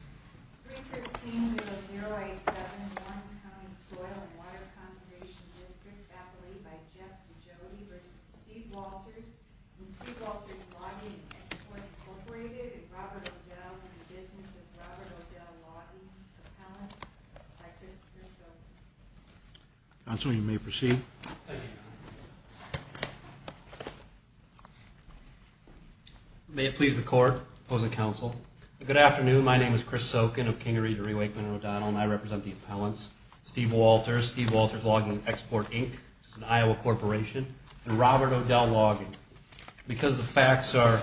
313-087-1, County Soil and Water Conservation District, Appalachia by Jeff and Jody v. Steve Walters, and Steve Walters Logging and Transport Incorporated and Robert O'Dell and Business as Robert O'Dell Logging, Appellants, by Christopher Silver. Counsel, you may proceed. Thank you. May it please the court, opposing counsel, good afternoon, my name is Chris Sokin of King, Erie, Derry, Wakeman, and O'Donnell, and I represent the appellants, Steve Walters, Steve Walters Logging and Export Inc., which is an Iowa corporation, and Robert O'Dell Logging. Because the facts are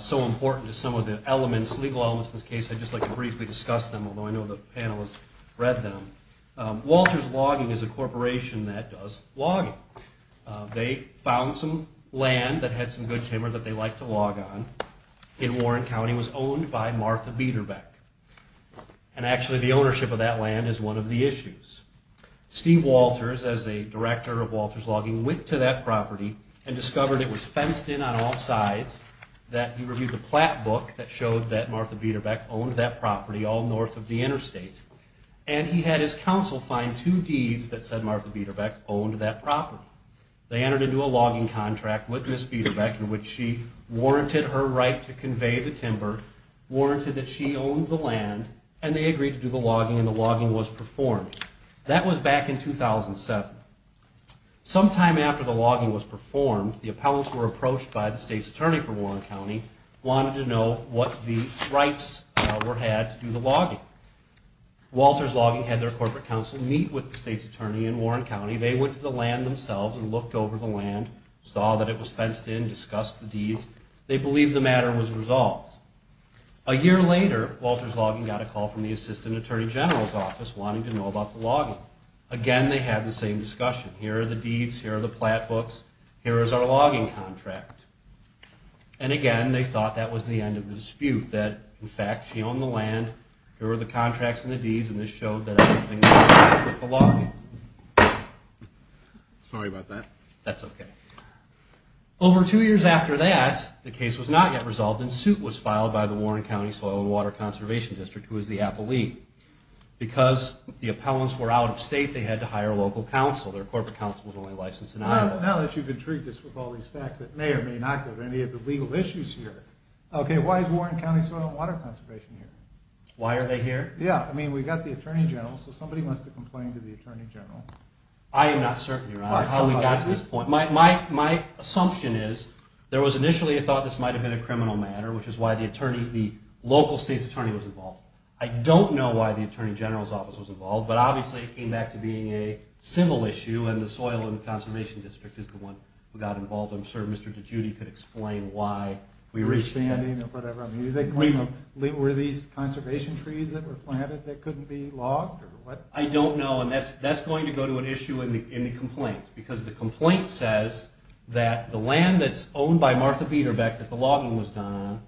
so important to some of the elements, legal elements of this case, I'd just like to briefly discuss them, although I know the panelists read them. Walters Logging is a corporation that does logging. They found some land that had some good timber that they liked to log on in Warren County, was owned by Martha Biederbeck. And actually the ownership of that land is one of the issues. Steve Walters, as a director of Walters Logging, went to that property and discovered it was fenced in on all sides, that he reviewed the plat book that showed that Martha Biederbeck owned that property all north of the interstate. And he had his counsel find two deeds that said Martha Biederbeck owned that property. They entered into a logging contract with Ms. Biederbeck in which she warranted her right to convey the timber, warranted that she owned the land, and they agreed to do the logging and the logging was performed. That was back in 2007. Sometime after the logging was performed, the appellants were approached by the state's attorney for Warren County, wanted to know what the rights were had to do the logging. Walters Logging had their corporate counsel meet with the state's attorney in Warren County. They went to the land themselves and looked over the land, saw that it was fenced in, discussed the deeds. They believed the matter was resolved. A year later, Walters Logging got a call from the assistant attorney general's office wanting to know about the logging. Again, they had the same discussion. Here are the deeds, here are the plat books, here is our logging contract. And again, they thought that was the end of the dispute. That, in fact, she owned the land, here were the contracts and the deeds, and this showed that everything was fine with the logging. Sorry about that. That's okay. Over two years after that, the case was not yet resolved and suit was filed by the Warren County Soil and Water Conservation District, who is the appellee. Because the appellants were out of state, they had to hire local counsel. Their corporate counsel was only licensed in Iowa. Now that you've intrigued us with all these facts that may or may not go to any of the legal issues here, okay, why is Warren County Soil and Water Conservation here? Why are they here? Yeah, I mean, we've got the attorney general, so somebody wants to complain to the attorney general. I am not certain, Your Honor, how we got to this point. My assumption is there was initially a thought this might have been a criminal matter, which is why the local state's attorney was involved. I don't know why the attorney general's office was involved, but obviously it came back to being a civil issue, and the Soil and Water Conservation District is the one who got involved. I'm sure Mr. DiGiudi could explain why we reached out. Were these conservation trees that were planted that couldn't be logged? I don't know, and that's going to go to an issue in the complaint, because the complaint says that the land that's owned by Martha Biederbeck that the logging was done on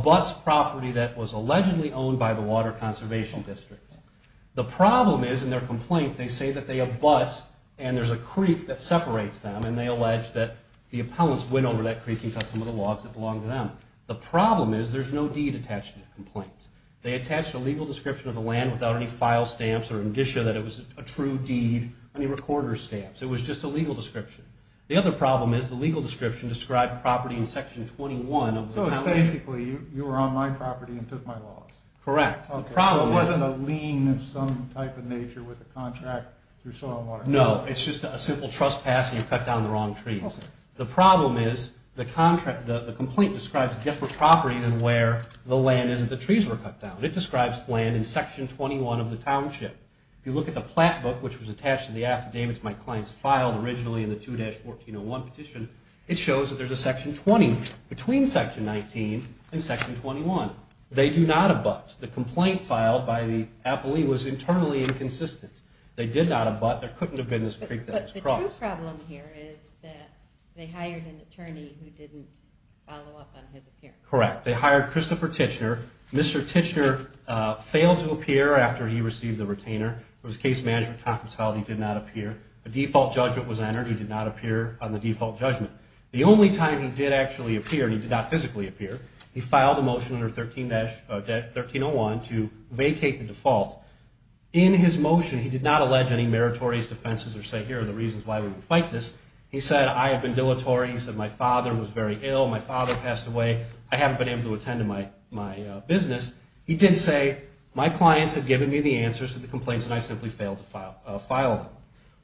abuts property that was allegedly owned by the Water Conservation District. The problem is in their complaint they say that they abut, and there's a creek that separates them, and they allege that the appellants went over that creek and cut some of the logs that belonged to them. The problem is there's no deed attached to the complaint. They attached a legal description of the land without any file stamps or indicia that it was a true deed, any recorder stamps. It was just a legal description. The other problem is the legal description described property in Section 21. So it's basically you were on my property and took my logs? Correct. So it wasn't a lien of some type of nature with a contract through Soil and Water Conservation? No, it's just a simple trust pass and you cut down the wrong trees. The problem is the complaint describes a different property than where the land is that the trees were cut down. It describes land in Section 21 of the township. If you look at the plat book, which was attached to the affidavits my clients filed originally in the 2-1401 petition, it shows that there's a Section 20 between Section 19 and Section 21. They do not abut. The complaint filed by the appellee was internally inconsistent. They did not abut. There couldn't have been this creek that was crossed. But the true problem here is that they hired an attorney who didn't follow up on his appearance. Correct. They hired Christopher Tichenor. Mr. Tichenor failed to appear after he received the retainer. It was case management confidentiality. He did not appear. A default judgment was entered. He did not appear on the default judgment. The only time he did actually appear, and he did not physically appear, he filed a motion under 1301 to vacate the default. In his motion, he did not allege any meritorious defenses or say here are the reasons why we would fight this. He said I have been dilatory. He said my father was very ill. My father passed away. I haven't been able to attend to my business. He did say my clients had given me the answers to the complaints and I simply failed to file them.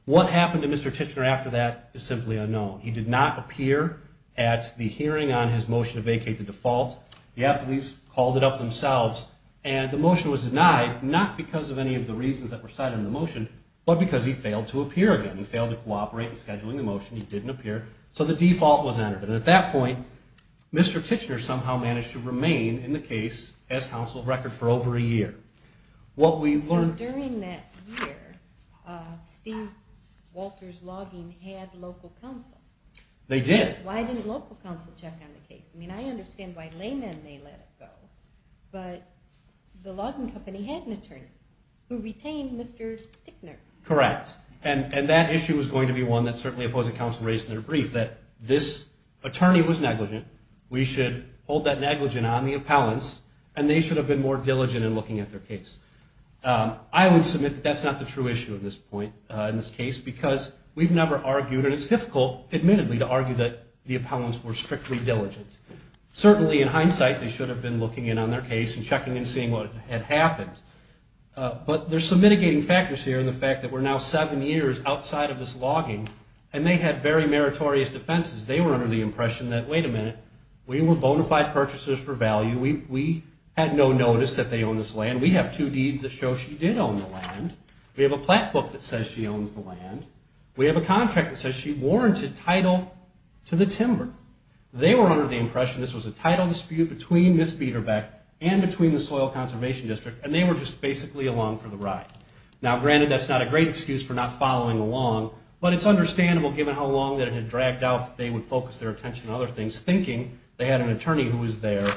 What happened to Mr. Tichenor after that is simply unknown. He did not appear at the hearing on his motion to vacate the default. The appellees called it up themselves and the motion was denied, not because of any of the reasons that were cited in the motion, but because he failed to appear again. He failed to cooperate in scheduling the motion. He didn't appear. So the default was entered. And at that point, Mr. Tichenor somehow managed to remain in the case as counsel of record for over a year. During that year, Steve Walters Logging had local counsel. They did. Why didn't local counsel check on the case? I mean, I understand why laymen may let it go, but the logging company had an attorney who retained Mr. Tichenor. Correct. And that issue was going to be one that certainly opposing counsel raised in their brief, that this attorney was negligent. We should hold that negligent on the appellants, and they should have been more diligent in looking at their case. I would submit that that's not the true issue at this point in this case, because we've never argued, and it's difficult, admittedly, to argue that the appellants were strictly diligent. Certainly, in hindsight, they should have been looking in on their case and checking and seeing what had happened. But there's some mitigating factors here in the fact that we're now seven years outside of this logging, and they had very meritorious defenses. They were under the impression that, wait a minute, we were bona fide purchasers for value. We had no notice that they owned this land. We have two deeds that show she did own the land. We have a plaque book that says she owns the land. We have a contract that says she warranted title to the timber. They were under the impression this was a title dispute between Miss Biederbeck and between the Soil Conservation District, and they were just basically along for the ride. Now, granted, that's not a great excuse for not following along, but it's understandable, given how long that it had dragged out, that they would focus their attention on other things, thinking they had an attorney who was there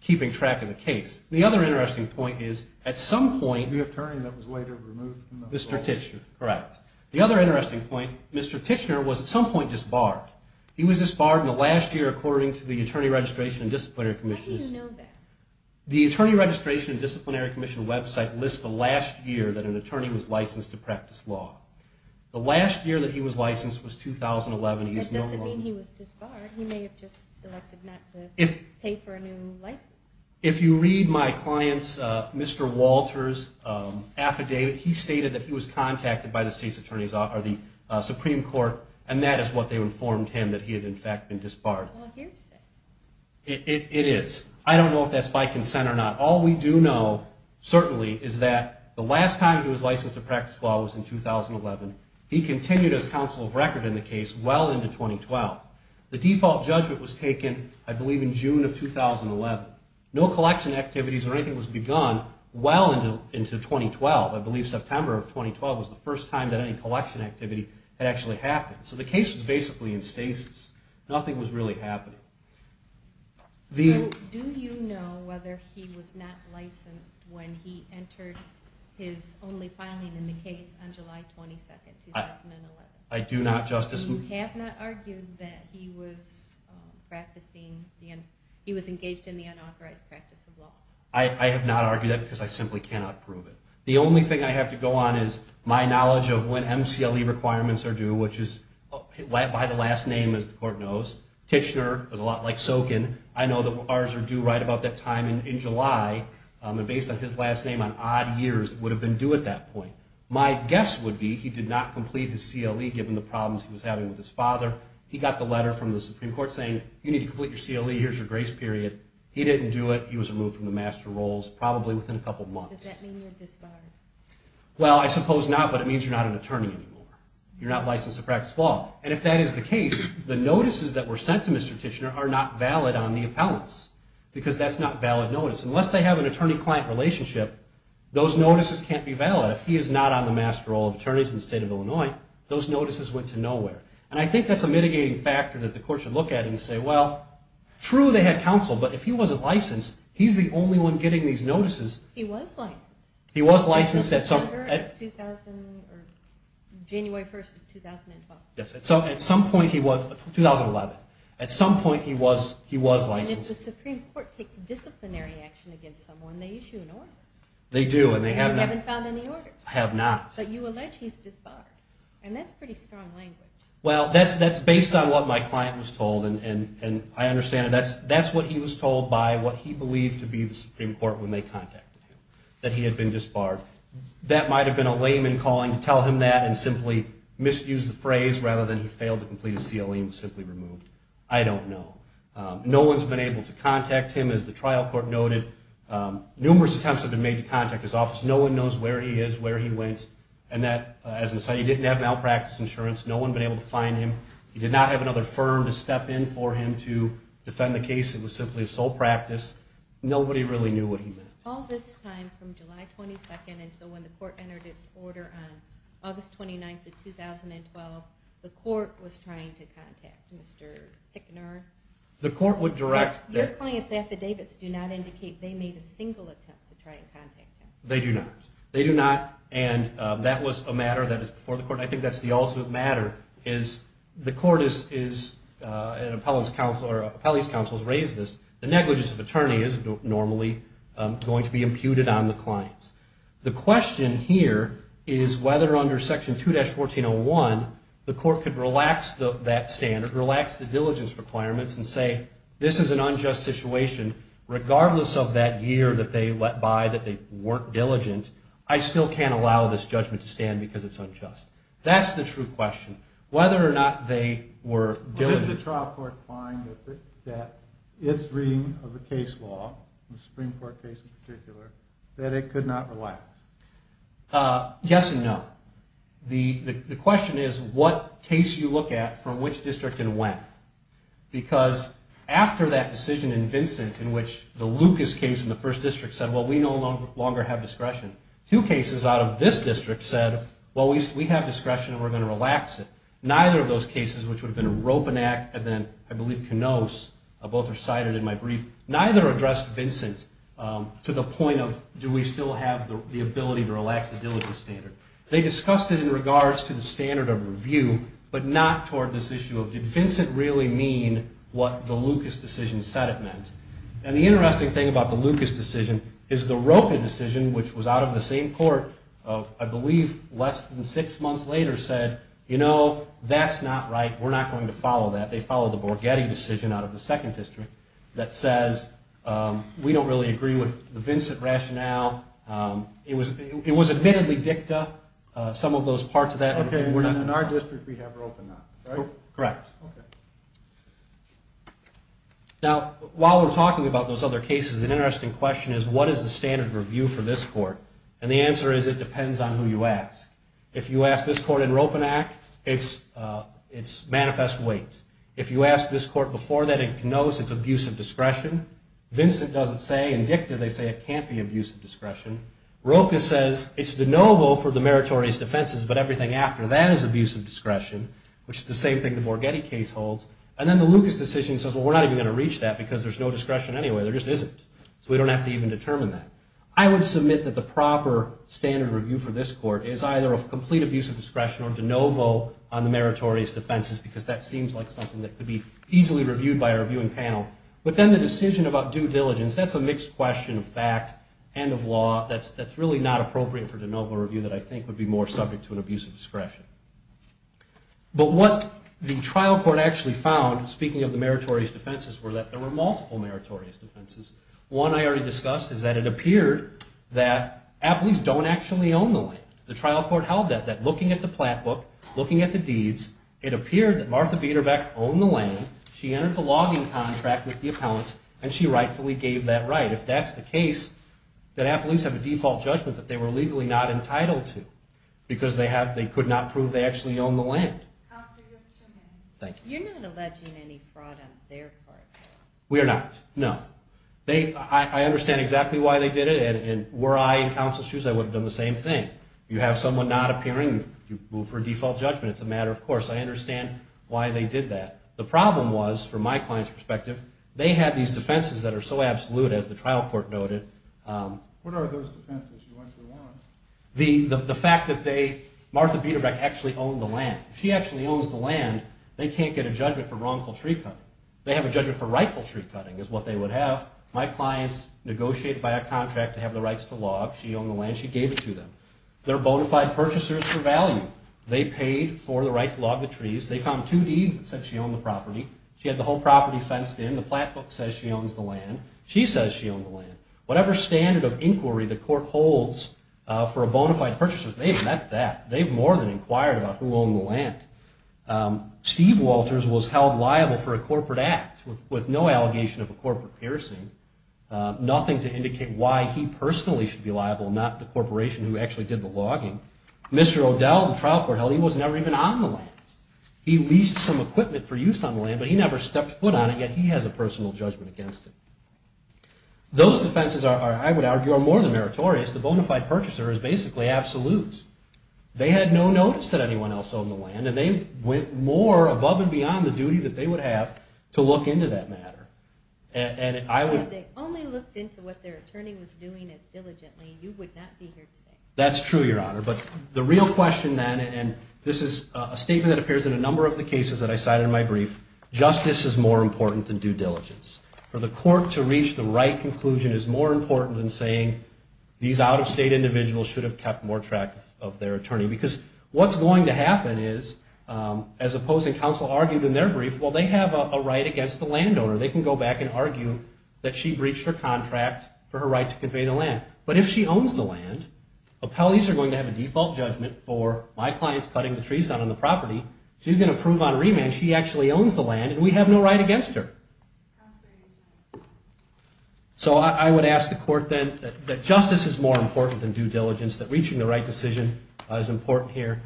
keeping track of the case. The other interesting point is, at some point... The attorney that was later removed from the... Mr. Tichenor, correct. The other interesting point, Mr. Tichenor was at some point disbarred. He was disbarred in the last year according to the Attorney Registration and Disciplinary Commission. How do you know that? The Attorney Registration and Disciplinary Commission website lists the last year that an attorney was licensed to practice law. The last year that he was licensed was 2011. That doesn't mean he was disbarred. He may have just elected not to pay for a new license. If you read my client's, Mr. Walter's, affidavit, he stated that he was contacted by the Supreme Court, and that is what they informed him, that he had, in fact, been disbarred. It's all hearsay. It is. I don't know if that's by consent or not. All we do know, certainly, is that the last time he was licensed to practice law was in 2011. He continued his counsel of record in the case well into 2012. The default judgment was taken, I believe, in June of 2011. No collection activities or anything was begun well into 2012. I believe September of 2012 was the first time that any collection activity had actually happened. So the case was basically in stasis. Nothing was really happening. So do you know whether he was not licensed when he entered his only filing in the case on July 22, 2011? I do not, Justice. You have not argued that he was engaged in the unauthorized practice of law? I have not argued that because I simply cannot prove it. The only thing I have to go on is my knowledge of when MCLE requirements are due, which is by the last name, as the court knows. Tichenor is a lot like Sokin. I know that ours are due right about that time in July. And based on his last name on odd years, it would have been due at that point. My guess would be he did not complete his CLE given the problems he was having with his father. He got the letter from the Supreme Court saying, you need to complete your CLE. Here's your grace period. He didn't do it. He was removed from the master rolls probably within a couple months. Does that mean you're disbarred? Well, I suppose not, but it means you're not an attorney anymore. You're not licensed to practice law. And if that is the case, the notices that were sent to Mr. Tichenor are not valid on the appellants because that's not valid notice. Unless they have an attorney-client relationship, those notices can't be valid. If he is not on the master roll of attorneys in the state of Illinois, those notices went to nowhere. And I think that's a mitigating factor that the court should look at and say, well, true they had counsel, but if he wasn't licensed, he's the only one getting these notices. He was licensed. He was licensed January 1, 2012. Yes, at some point he was. 2011. At some point he was licensed. And if the Supreme Court takes disciplinary action against someone, they issue an order. They do, and they have not. And you haven't found any order. I have not. But you allege he's disbarred, and that's pretty strong language. Well, that's based on what my client was told, and I understand it. That's what he was told by what he believed to be the Supreme Court when they contacted him, that he had been disbarred. That might have been a layman calling to tell him that and simply misuse the phrase rather than he failed to complete his COE and was simply removed. I don't know. No one's been able to contact him, as the trial court noted. Numerous attempts have been made to contact his office. No one knows where he is, where he went. And that, as I said, he didn't have malpractice insurance. No one's been able to find him. He did not have another firm to step in for him to defend the case. It was simply a sole practice. Nobody really knew what he meant. All this time, from July 22nd until when the court entered its order on August 29th of 2012, the court was trying to contact Mr. Tickner. Your client's affidavits do not indicate they made a single attempt to try and contact him. They do not. They do not, and that was a matter that is before the court. I think that's the ultimate matter is the court is an appellate's counsel or an appellate's counsel has raised this. The negligence of attorney isn't normally going to be imputed on the clients. The question here is whether, under Section 2-1401, the court could relax that standard, relax the diligence requirements, and say, this is an unjust situation. Regardless of that year that they let by that they weren't diligent, I still can't allow this judgment to stand because it's unjust. That's the true question, whether or not they were diligent. Did the trial court find that its reading of the case law, the Supreme Court case in particular, that it could not relax? Yes and no. The question is what case you look at from which district and when. Because after that decision in Vincent in which the Lucas case in the first district said, well, we no longer have discretion, two cases out of this district said, well, we have discretion and we're going to relax it. Neither of those cases, which would have been a Ropanac and then, I believe, Knoss, both are cited in my brief, neither addressed Vincent to the point of do we still have the ability to relax the diligence standard. They discussed it in regards to the standard of review, but not toward this issue of did Vincent really mean what the Lucas decision said it meant. And the interesting thing about the Lucas decision is the Ropan decision, which was out of the same court, I believe less than six months later, said, you know, that's not right. We're not going to follow that. They followed the Borghetti decision out of the second district that says we don't really agree with the Vincent rationale. It was admittedly dicta, some of those parts of that. Okay, and in our district we have Ropanac, right? Correct. Okay. Now, while we're talking about those other cases, an interesting question is what is the standard of review for this court? And the answer is it depends on who you ask. If you ask this court in Ropanac, it's manifest weight. If you ask this court before that, it knows it's abuse of discretion. Vincent doesn't say. In dicta they say it can't be abuse of discretion. Ropan says it's de novo for the meritorious defenses, but everything after that is abuse of discretion, which is the same thing the Borghetti case holds. And then the Lucas decision says, well, we're not even going to reach that because there's no discretion anyway. There just isn't, so we don't have to even determine that. I would submit that the proper standard of review for this court is either a complete abuse of discretion or de novo on the meritorious defenses because that seems like something that could be easily reviewed by our viewing panel. But then the decision about due diligence, that's a mixed question of fact and of law. That's really not appropriate for de novo review that I think would be more subject to an abuse of discretion. But what the trial court actually found, speaking of the meritorious defenses, was that there were multiple meritorious defenses. One I already discussed is that it appeared that Appellees don't actually own the land. The trial court held that, that looking at the plat book, looking at the deeds, it appeared that Martha Biederbeck owned the land, she entered the logging contract with the appellants, and she rightfully gave that right. If that's the case, then Appellees have a default judgment that they were legally not entitled to because they could not prove they actually owned the land. You're not alleging any fraud on their part? We are not, no. I understand exactly why they did it, and were I in counsel's shoes, I would have done the same thing. You have someone not appearing, you move for a default judgment, it's a matter of course, I understand why they did that. The problem was, from my client's perspective, they had these defenses that are so absolute, as the trial court noted. What are those defenses? The fact that Martha Biederbeck actually owned the land. If she actually owns the land, they can't get a judgment for wrongful tree cutting. They have a judgment for rightful tree cutting, is what they would have. My client's negotiated by a contract to have the rights to log, she owned the land, she gave it to them. They're bona fide purchasers for value. They paid for the right to log the trees, they found two deeds that said she owned the property, she had the whole property fenced in, the plat book says she owns the land, she says she owns the land. Whatever standard of inquiry the court holds for a bona fide purchaser, they've met that. They've more than inquired about who owned the land. Steve Walters was held liable for a corporate act, with no allegation of a corporate piercing, nothing to indicate why he personally should be liable, not the corporation who actually did the logging. Mr. O'Dell, the trial court held, he was never even on the land. He leased some equipment for use on the land, but he never stepped foot on it, yet he has a personal judgment against it. Those defenses are, I would argue, are more than meritorious. The bona fide purchaser is basically absolutes. They had no notice that anyone else owned the land, and they went more above and beyond the duty that they would have to look into that matter. And I would... Well, if they only looked into what their attorney was doing as diligently, you would not be here today. That's true, Your Honor, but the real question then, and this is a statement that appears in a number of the cases that I cited in my brief, justice is more important than due diligence. For the court to reach the right conclusion is more important than saying these out-of-state individuals should have kept more track of their attorney. Because what's going to happen is, as opposing counsel argued in their brief, well, they have a right against the landowner. They can go back and argue that she breached her contract for her right to convey the land. But if she owns the land, appellees are going to have a default judgment for my client's cutting the trees down on the property. She's going to prove on remand she actually owns the land, and we have no right against her. So I would ask the court then that justice is more important than due diligence, that reaching the right decision is important here.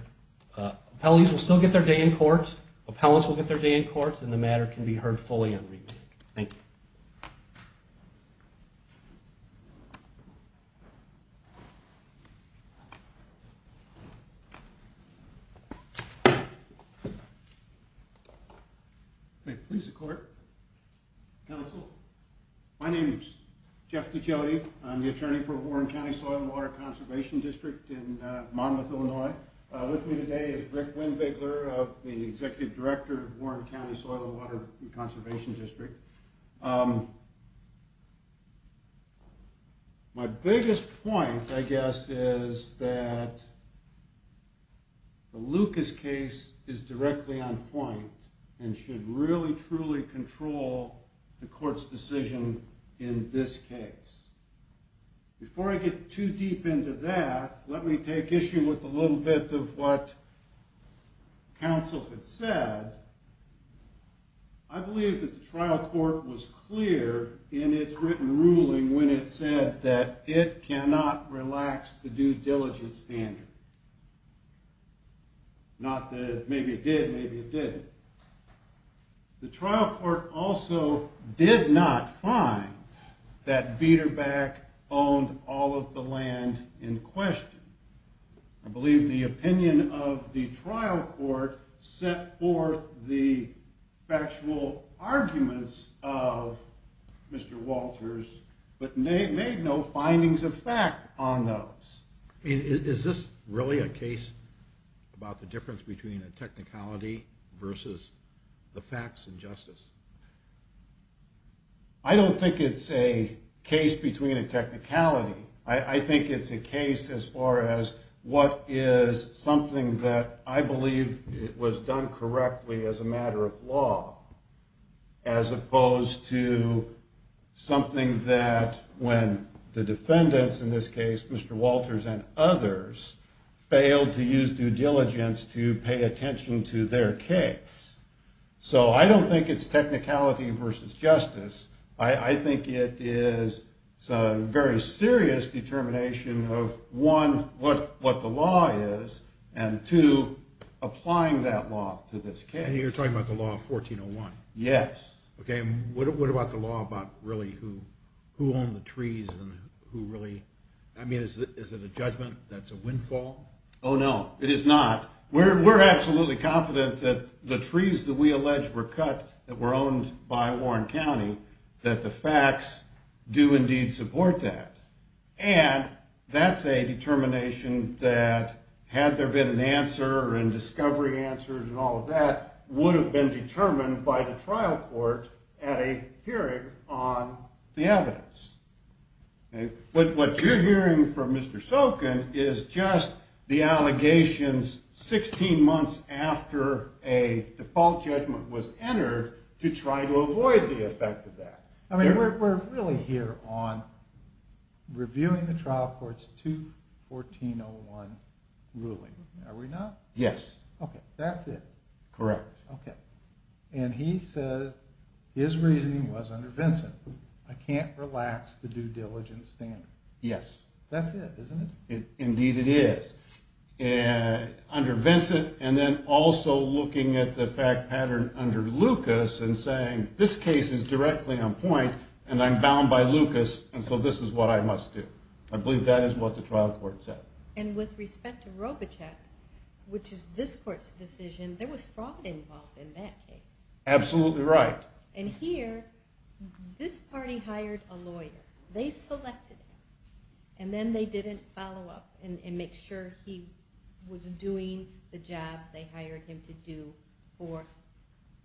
Appellees will still get their day in court, appellants will get their day in court, and the matter can be heard fully on remand. Thank you. May it please the court. Counsel, my name is Jeff Ducelli. I'm the attorney for Warren County Soil and Water Conservation District in Monmouth, Illinois. With me today is Rick Winn-Bigler, the executive director of Warren County Soil and Water Conservation District. My biggest point, I guess, is that the Lucas case is directly on point and should really, truly control the court's decision in this case. Before I get too deep into that, let me take issue with a little bit of what counsel had said. I believe that the trial court was clear in its written ruling when it said that it cannot relax the due diligence standard. Not that maybe it did, maybe it didn't. The trial court also did not find that Biederback owned all of the land in question. I believe the opinion of the trial court set forth the factual arguments of Mr. Walters, but made no findings of fact on those. Is this really a case about the difference between a technicality versus the facts and justice? I don't think it's a case between a technicality. I think it's a case as far as what is something that I believe was done correctly as a matter of law, as opposed to something that when the defendants in this case, Mr. Walters and others, failed to use due diligence to pay attention to their case. So I don't think it's technicality versus justice. I think it is a very serious determination of one, what the law is, and two, applying that law to this case. And you're talking about the law of 1401? Yes. Okay, and what about the law about really who owned the trees and who really... I mean, is it a judgment that's a windfall? Oh no, it is not. We're absolutely confident that the trees that we allege were cut, that were owned by Warren County, that the facts do indeed support that. And that's a determination that had there been an answer and discovery answers and all of that, would have been determined by the trial court at a hearing on the evidence. But what you're hearing from Mr. Sokin is just the allegations 16 months after a default judgment was entered to try to avoid the effect of that. I mean, we're really here on reviewing the trial court's 21401 ruling. Are we not? Yes. Okay, that's it. Correct. Okay. And he says his reasoning was under Vincent. I can't relax the due diligence standard. Yes. That's it, isn't it? Indeed it is. Under Vincent, and then also looking at the fact pattern under Lucas, and saying this case is directly on point and I'm bound by Lucas, and so this is what I must do. I believe that is what the trial court said. And with respect to Robichek, which is this court's decision, there was fraud involved in that case. Absolutely right. And here, this party hired a lawyer. They selected him, and then they didn't follow up and make sure he was doing the job they hired him to do for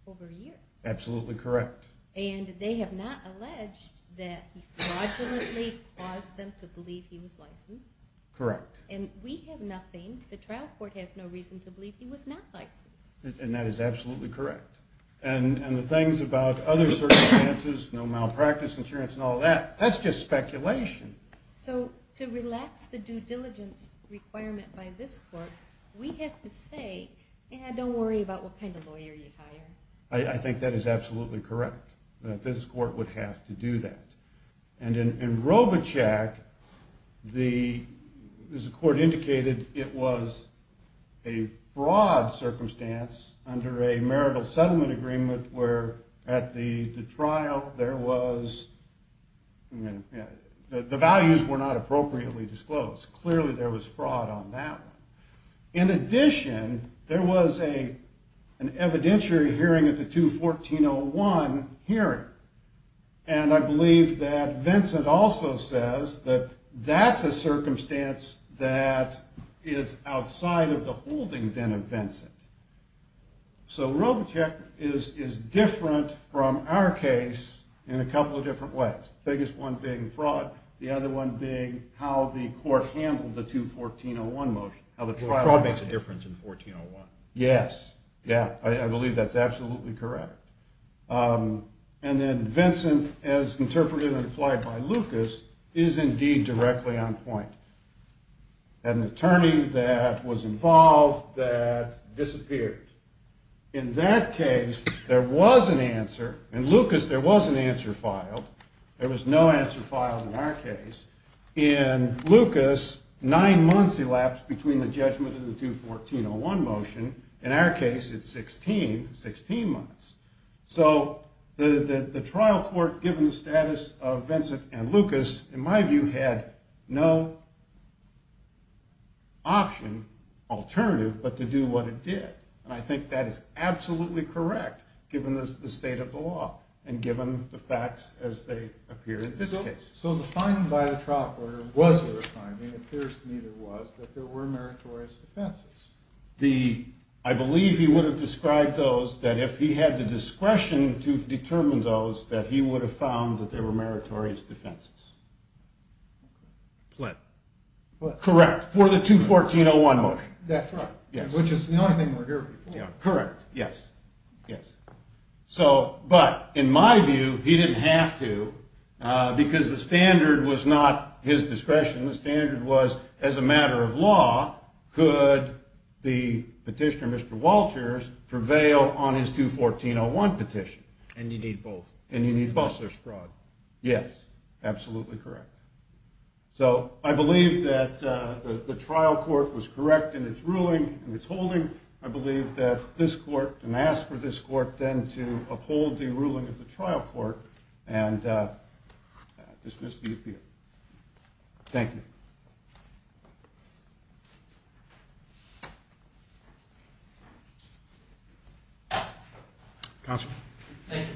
over a year. Absolutely correct. And they have not alleged that he fraudulently caused them to believe he was licensed. Correct. And we have nothing, the trial court has no reason to believe he was not licensed. And that is absolutely correct. And the things about other circumstances, no malpractice insurance and all that, that's just speculation. So to relax the due diligence requirement by this court, we have to say, don't worry about what kind of lawyer you hire. I think that is absolutely correct, that this court would have to do that. And in Robichek, as the court indicated, it was a fraud circumstance under a marital settlement agreement where at the trial, there was, the values were not appropriately disclosed. Clearly there was fraud on that one. In addition, there was an evidentiary hearing at the 2-1401 hearing. And I believe that Vincent also says that that's a circumstance that is outside of the holding then of Vincent. So Robichek is different from our case in a couple of different ways. The biggest one being fraud. The other one being how the court handled the 2-1401 motion. How the trial happened. Fraud makes a difference in 1401. Yes. Yeah, I believe that's absolutely correct. And then Vincent, as interpreted and implied by Lucas, is indeed directly on point. An attorney that was involved, that disappeared. In that case, there was an answer. In Lucas, there was an answer filed. There was no answer filed in our case. In Lucas, nine months elapsed between the judgment and the 2-1401 motion. In our case, it's 16, 16 months. So the trial court, given the status of Vincent and Lucas, in my view, had no option, alternative, but to do what it did. And I think that is absolutely correct, given the state of the law and given the facts as they appear in this case. So the finding by the trial court, was there a finding? It appears neither was, that there were meritorious defenses. I believe he would have described those that if he had the discretion to determine those, that he would have found that there were meritorious defenses. Plaintiff. Correct. For the 2-1401 motion. That's right. Yes. Which is the only thing we're here for. Correct. Yes. Yes. So, but, in my view, he didn't have to, because the standard was not his discretion. The standard was, as a matter of law, could the petitioner, Mr. Walters, prevail on his 2-1401 petition? And you need both. And you need both. Such fraud. Yes. Absolutely correct. So, I believe that the trial court was correct in its ruling, in its holding. I believe that this court, and ask for this court, then to uphold the ruling of the trial court, and dismiss the appeal. Thank you. Counsel. Thank you.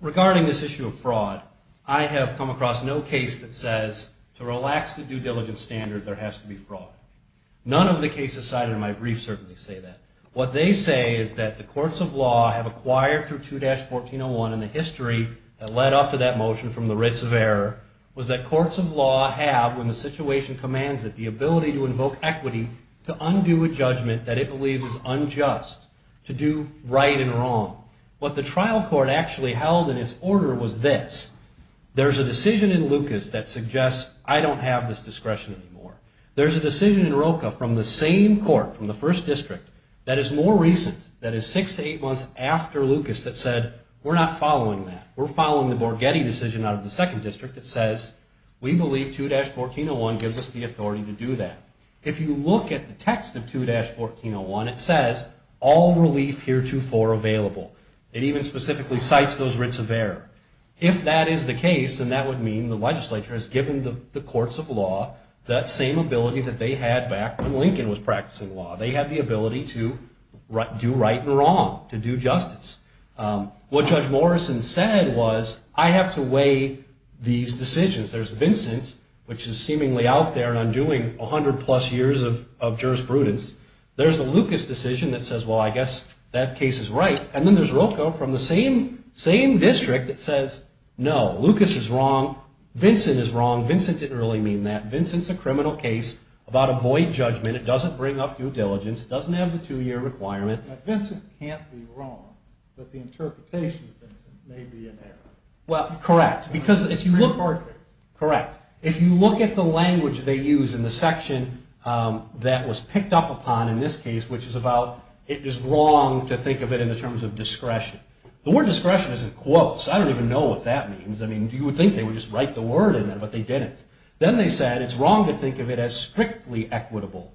Regarding this issue of fraud, I have come across no case that says, to relax the due diligence standard, there has to be fraud. None of the cases cited in my brief certainly say that. What they say is that the courts of law have acquired through 2-1401, and the history that led up to that motion from the writs of error, was that courts of law have, when the situation commands it, the ability to invoke equity, to undo a judgment that it believes is unjust, to do right and wrong. What the trial court actually held in its order was this. There's a decision in Lucas that suggests, I don't have this discretion anymore. There's a decision in Roca from the same court, from the first district, that is more recent, that is six to eight months after Lucas, that said, we're not following that. We're following the Borghetti decision out of the second district that says, we believe 2-1401 gives us the authority to do that. If you look at the text of 2-1401, it says, all relief heretofore available. It even specifically cites those writs of error. If that is the case, then that would mean the legislature has given the courts of law that same ability that they had back when Lincoln was practicing law. They had the ability to do right and wrong, to do justice. What Judge Morrison said was, I have to weigh these decisions. There's Vincent, which is seemingly out there and undoing 100 plus years of jurisprudence. There's the Lucas decision that says, well, I guess that case is right. And then there's Rocco from the same district that says, no, Lucas is wrong. Vincent is wrong. Vincent didn't really mean that. Vincent's a criminal case about a void judgment. It doesn't bring up due diligence. It doesn't have the two-year requirement. Vincent can't be wrong, but the interpretation of Vincent may be in error. Well, correct. Because if you look... Correct. If you look at the language they use in the section that was picked up upon in this case, which is about, it is wrong to think of it in the terms of discretion. The word discretion isn't quotes. I don't even know what that means. I mean, you would think they would just write the word in there, but they didn't. Then they said, it's wrong to think of it as strictly equitable.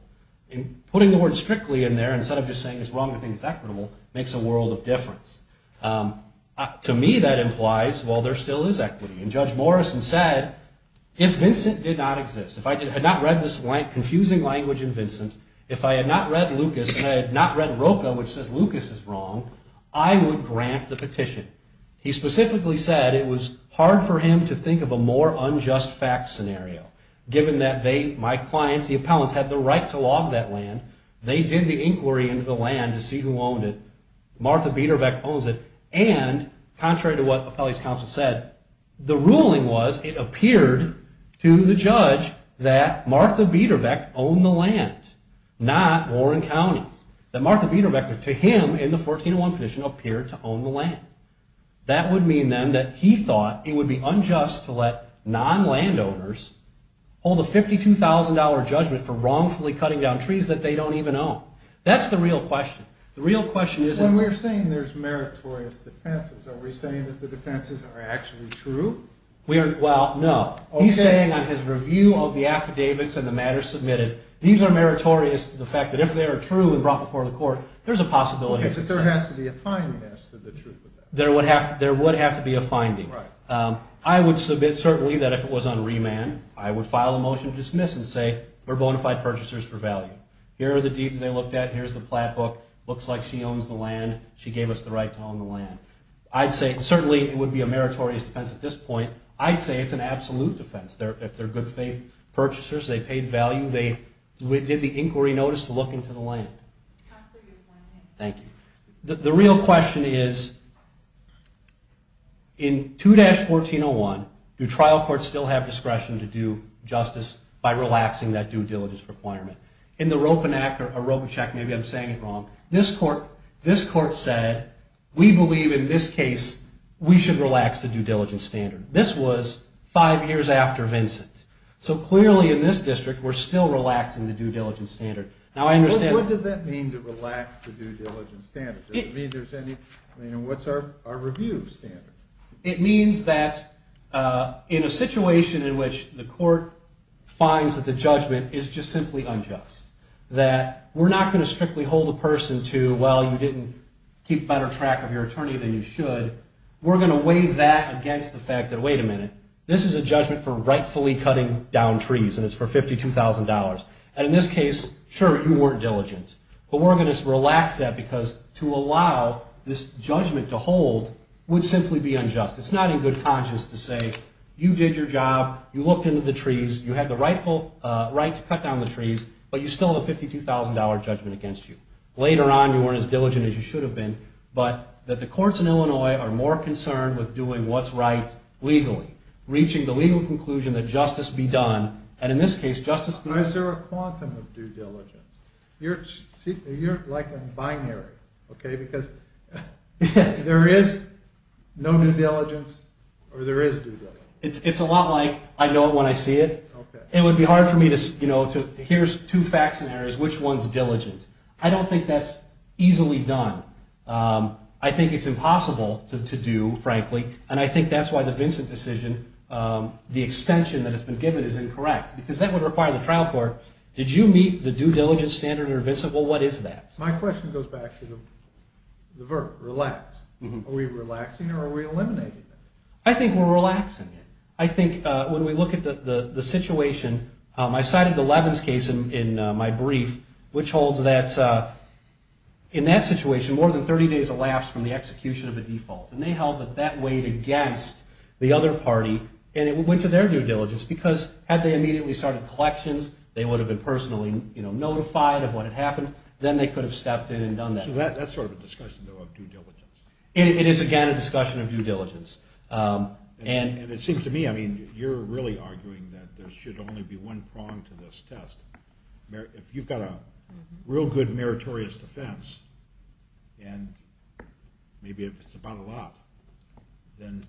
Putting the word strictly in there instead of just saying it's wrong to think it's equitable makes a world of difference. To me, that implies, well, there still is equity. And Judge Morrison said, if Vincent did not exist, if I had not read this confusing language in Vincent, if I had not read Lucas and I had not read Roca, which says Lucas is wrong, I would grant the petition. He specifically said it was hard for him to think of a more unjust facts scenario given that my clients, the appellants, had the right to log that land. They did the inquiry into the land to see who owned it. Martha Biederbeck owns it. And contrary to what the appellate's counsel said, the ruling was it appeared to the judge that Martha Biederbeck owned the land, not Warren County. That Martha Biederbeck, to him, in the 1401 petition, appeared to own the land. That would mean, then, that he thought it would be unjust to let non-landowners hold a $52,000 judgment for wrongfully cutting down trees that they don't even own. That's the real question. The real question is... When we're saying there's meritorious defenses, are we saying that the defenses are actually true? Well, no. He's saying on his review of the affidavits and the matters submitted, these are meritorious to the fact that if they are true and brought before the court, there's a possibility... There has to be a finding as to the truth of that. There would have to be a finding. I would submit, certainly, that if it was on remand, I would file a motion to dismiss and say we're bona fide purchasers for value. Here are the deeds they looked at. Here's the plat book. Looks like she owns the land. She gave us the right to own the land. I'd say, certainly, it would be a meritorious defense at this point. I'd say it's an absolute defense. If they're good faith purchasers, they paid value, they did the inquiry notice to look into the land. Thank you. The real question is... In 2-1401, do trial courts still have discretion to do justice by relaxing that due diligence requirement? In the Ropanak or Robichek, maybe I'm saying it wrong, this court said, we believe in this case we should relax the due diligence standard. This was five years after Vincent. So clearly in this district, we're still relaxing the due diligence standard. What does that mean to relax the due diligence standard? Does it mean there's any... What's our review standard? It means that in a situation in which the court finds that the judgment is just simply unjust, that we're not going to strictly hold a person to, well, you didn't keep better track of your attorney than you should, we're going to weigh that against the fact that, wait a minute, this is a judgment for rightfully cutting down trees and it's for $52,000. And in this case, sure, you weren't diligent. But we're going to relax that because to allow this judgment to hold would simply be unjust. It's not in good conscience to say, you did your job, you looked into the trees, you had the right to cut down the trees, but you still have a $52,000 judgment against you. Later on, you weren't as diligent as you should have been, but that the courts in Illinois are more concerned with doing what's right legally, reaching the legal conclusion that justice be done. And in this case, justice be done... Why is there a quantum of due diligence? You're like a binary, okay? Because there is no due diligence or there is due diligence. It's a lot like I know it when I see it. It would be hard for me to, you know, here's two facts and areas, which one's diligent? I don't think that's easily done. I think it's impossible to do, frankly. And I think that's why the Vincent decision, the extension that has been given is incorrect because that would require the trial court, did you meet the due diligence standard or Vincent? Well, what is that? My question goes back to the verb, relax. Are we relaxing or are we eliminating it? I think we're relaxing it. I think when we look at the situation, I cited the Levin's case in my brief, which holds that in that situation, more than 30 days elapsed from the execution of a default. And they held that that weighed against the other party and it went to their due diligence because had they immediately started collections, they would have been personally notified of what had happened. Then they could have stepped in and done that. So that's sort of a discussion, though, of due diligence. It is, again, a discussion of due diligence. And it seems to me, I mean, you're really arguing that there should only be one prong to this test. If you've got a real good meritorious defense and maybe if it's about a lot, then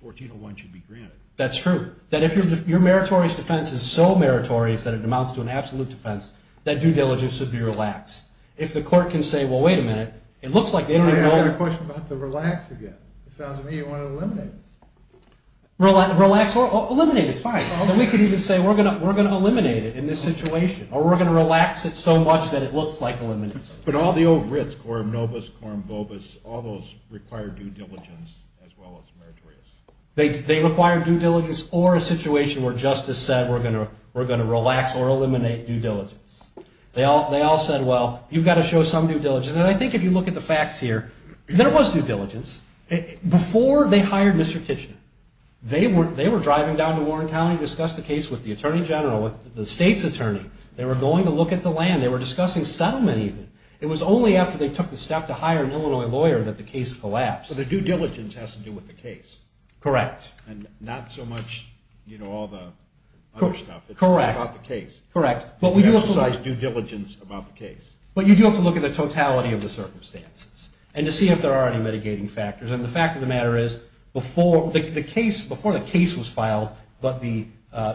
1401 should be granted. That's true. That if your meritorious defense is so meritorious that it amounts to an absolute defense, that due diligence should be relaxed. If the court can say, well, wait a minute, it looks like they don't even know... I have a question about the relax again. It sounds to me you want to eliminate it. Relax or eliminate, it's fine. We could even say we're going to eliminate it in this situation or we're going to relax it so much that it looks like elimination. But all the old writs, coram nobis, coram vobis, all those require due diligence as well as meritorious. They require due diligence or a situation where justice said we're going to relax or eliminate due diligence. They all said, well, you've got to show some due diligence. And I think if you look at the facts here, there was due diligence. Before they hired Mr. Titchen, they were driving down to Warren County to discuss the case with the Attorney General, with the state's attorney. They were going to look at the land. They were discussing settlement even. It was only after they took the step to hire an Illinois lawyer that the case collapsed. So the due diligence has to do with the case. Correct. And not so much all the other stuff. Correct. It's about the case. Correct. But we do have to look... You emphasize due diligence about the case. But you do have to look at the totality of the circumstances and to see if there are any mitigating factors. And the fact of the matter is, before the case was filed but the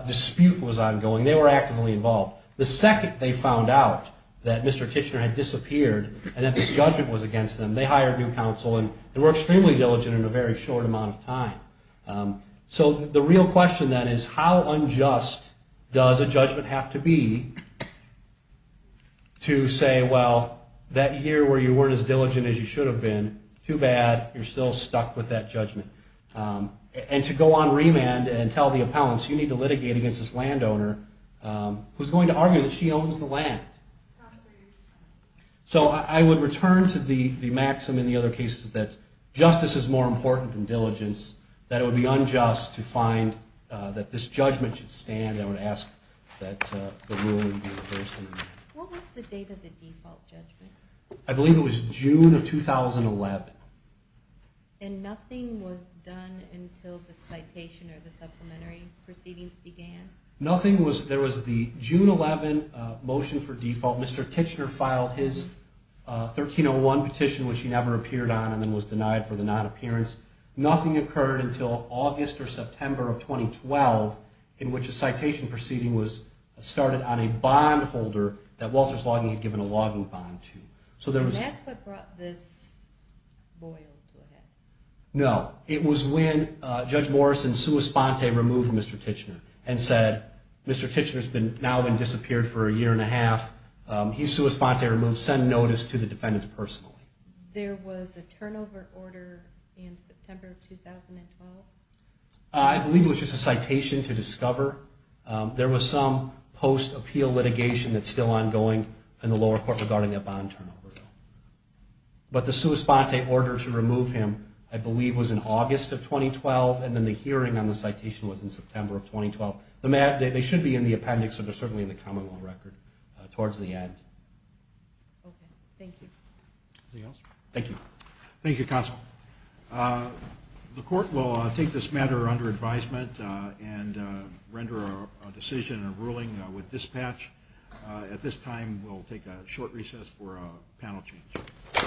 dispute was ongoing, they were actively involved. The second they found out that Mr. Titchener had disappeared and that this judgment was against them, they hired new counsel and were extremely diligent in a very short amount of time. So the real question then is, how unjust does a judgment have to be to say, well, that year where you weren't as diligent as you should have been, too bad. You're still stuck with that judgment. And to go on remand and tell the appellants, you need to litigate against this landowner who's going to argue that she owns the land. Absolutely. So I would return to the maxim in the other cases that justice is more important than diligence, that it would be unjust to find that this judgment should stand. I would ask that the ruling be reversed. What was the date of the default judgment? I believe it was June of 2011. And nothing was done until the citation or the supplementary proceedings began? Nothing was done. There was the June 11 motion for default. Mr. Titchener filed his 1301 petition, which he never appeared on, and then was denied for the non-appearance. Nothing occurred until August or September of 2012 in which a citation proceeding was started on a bond holder that Walters Logging had given a logging bond to. And that's what brought this boil to a head? No. It was when Judge Morrison sua sponte removed Mr. Titchener and said, Mr. Titchener's now been disappeared for a year and a half. He sua sponte removed. Send notice to the defendants personally. There was a turnover order in September of 2012? I believe it was just a citation to discover. There was some post-appeal litigation that's still ongoing in the lower court regarding that bond turnover. But the sua sponte order to remove him, I believe, was in August of 2012, and then the hearing on the citation was in September of 2012. They should be in the appendix, but they're certainly in the common law record towards the end. Okay. Thank you. Anything else? Thank you. Thank you, Counsel. The court will take this matter under advisement and render a decision or ruling with dispatch. At this time, we'll take a short recess for a panel change.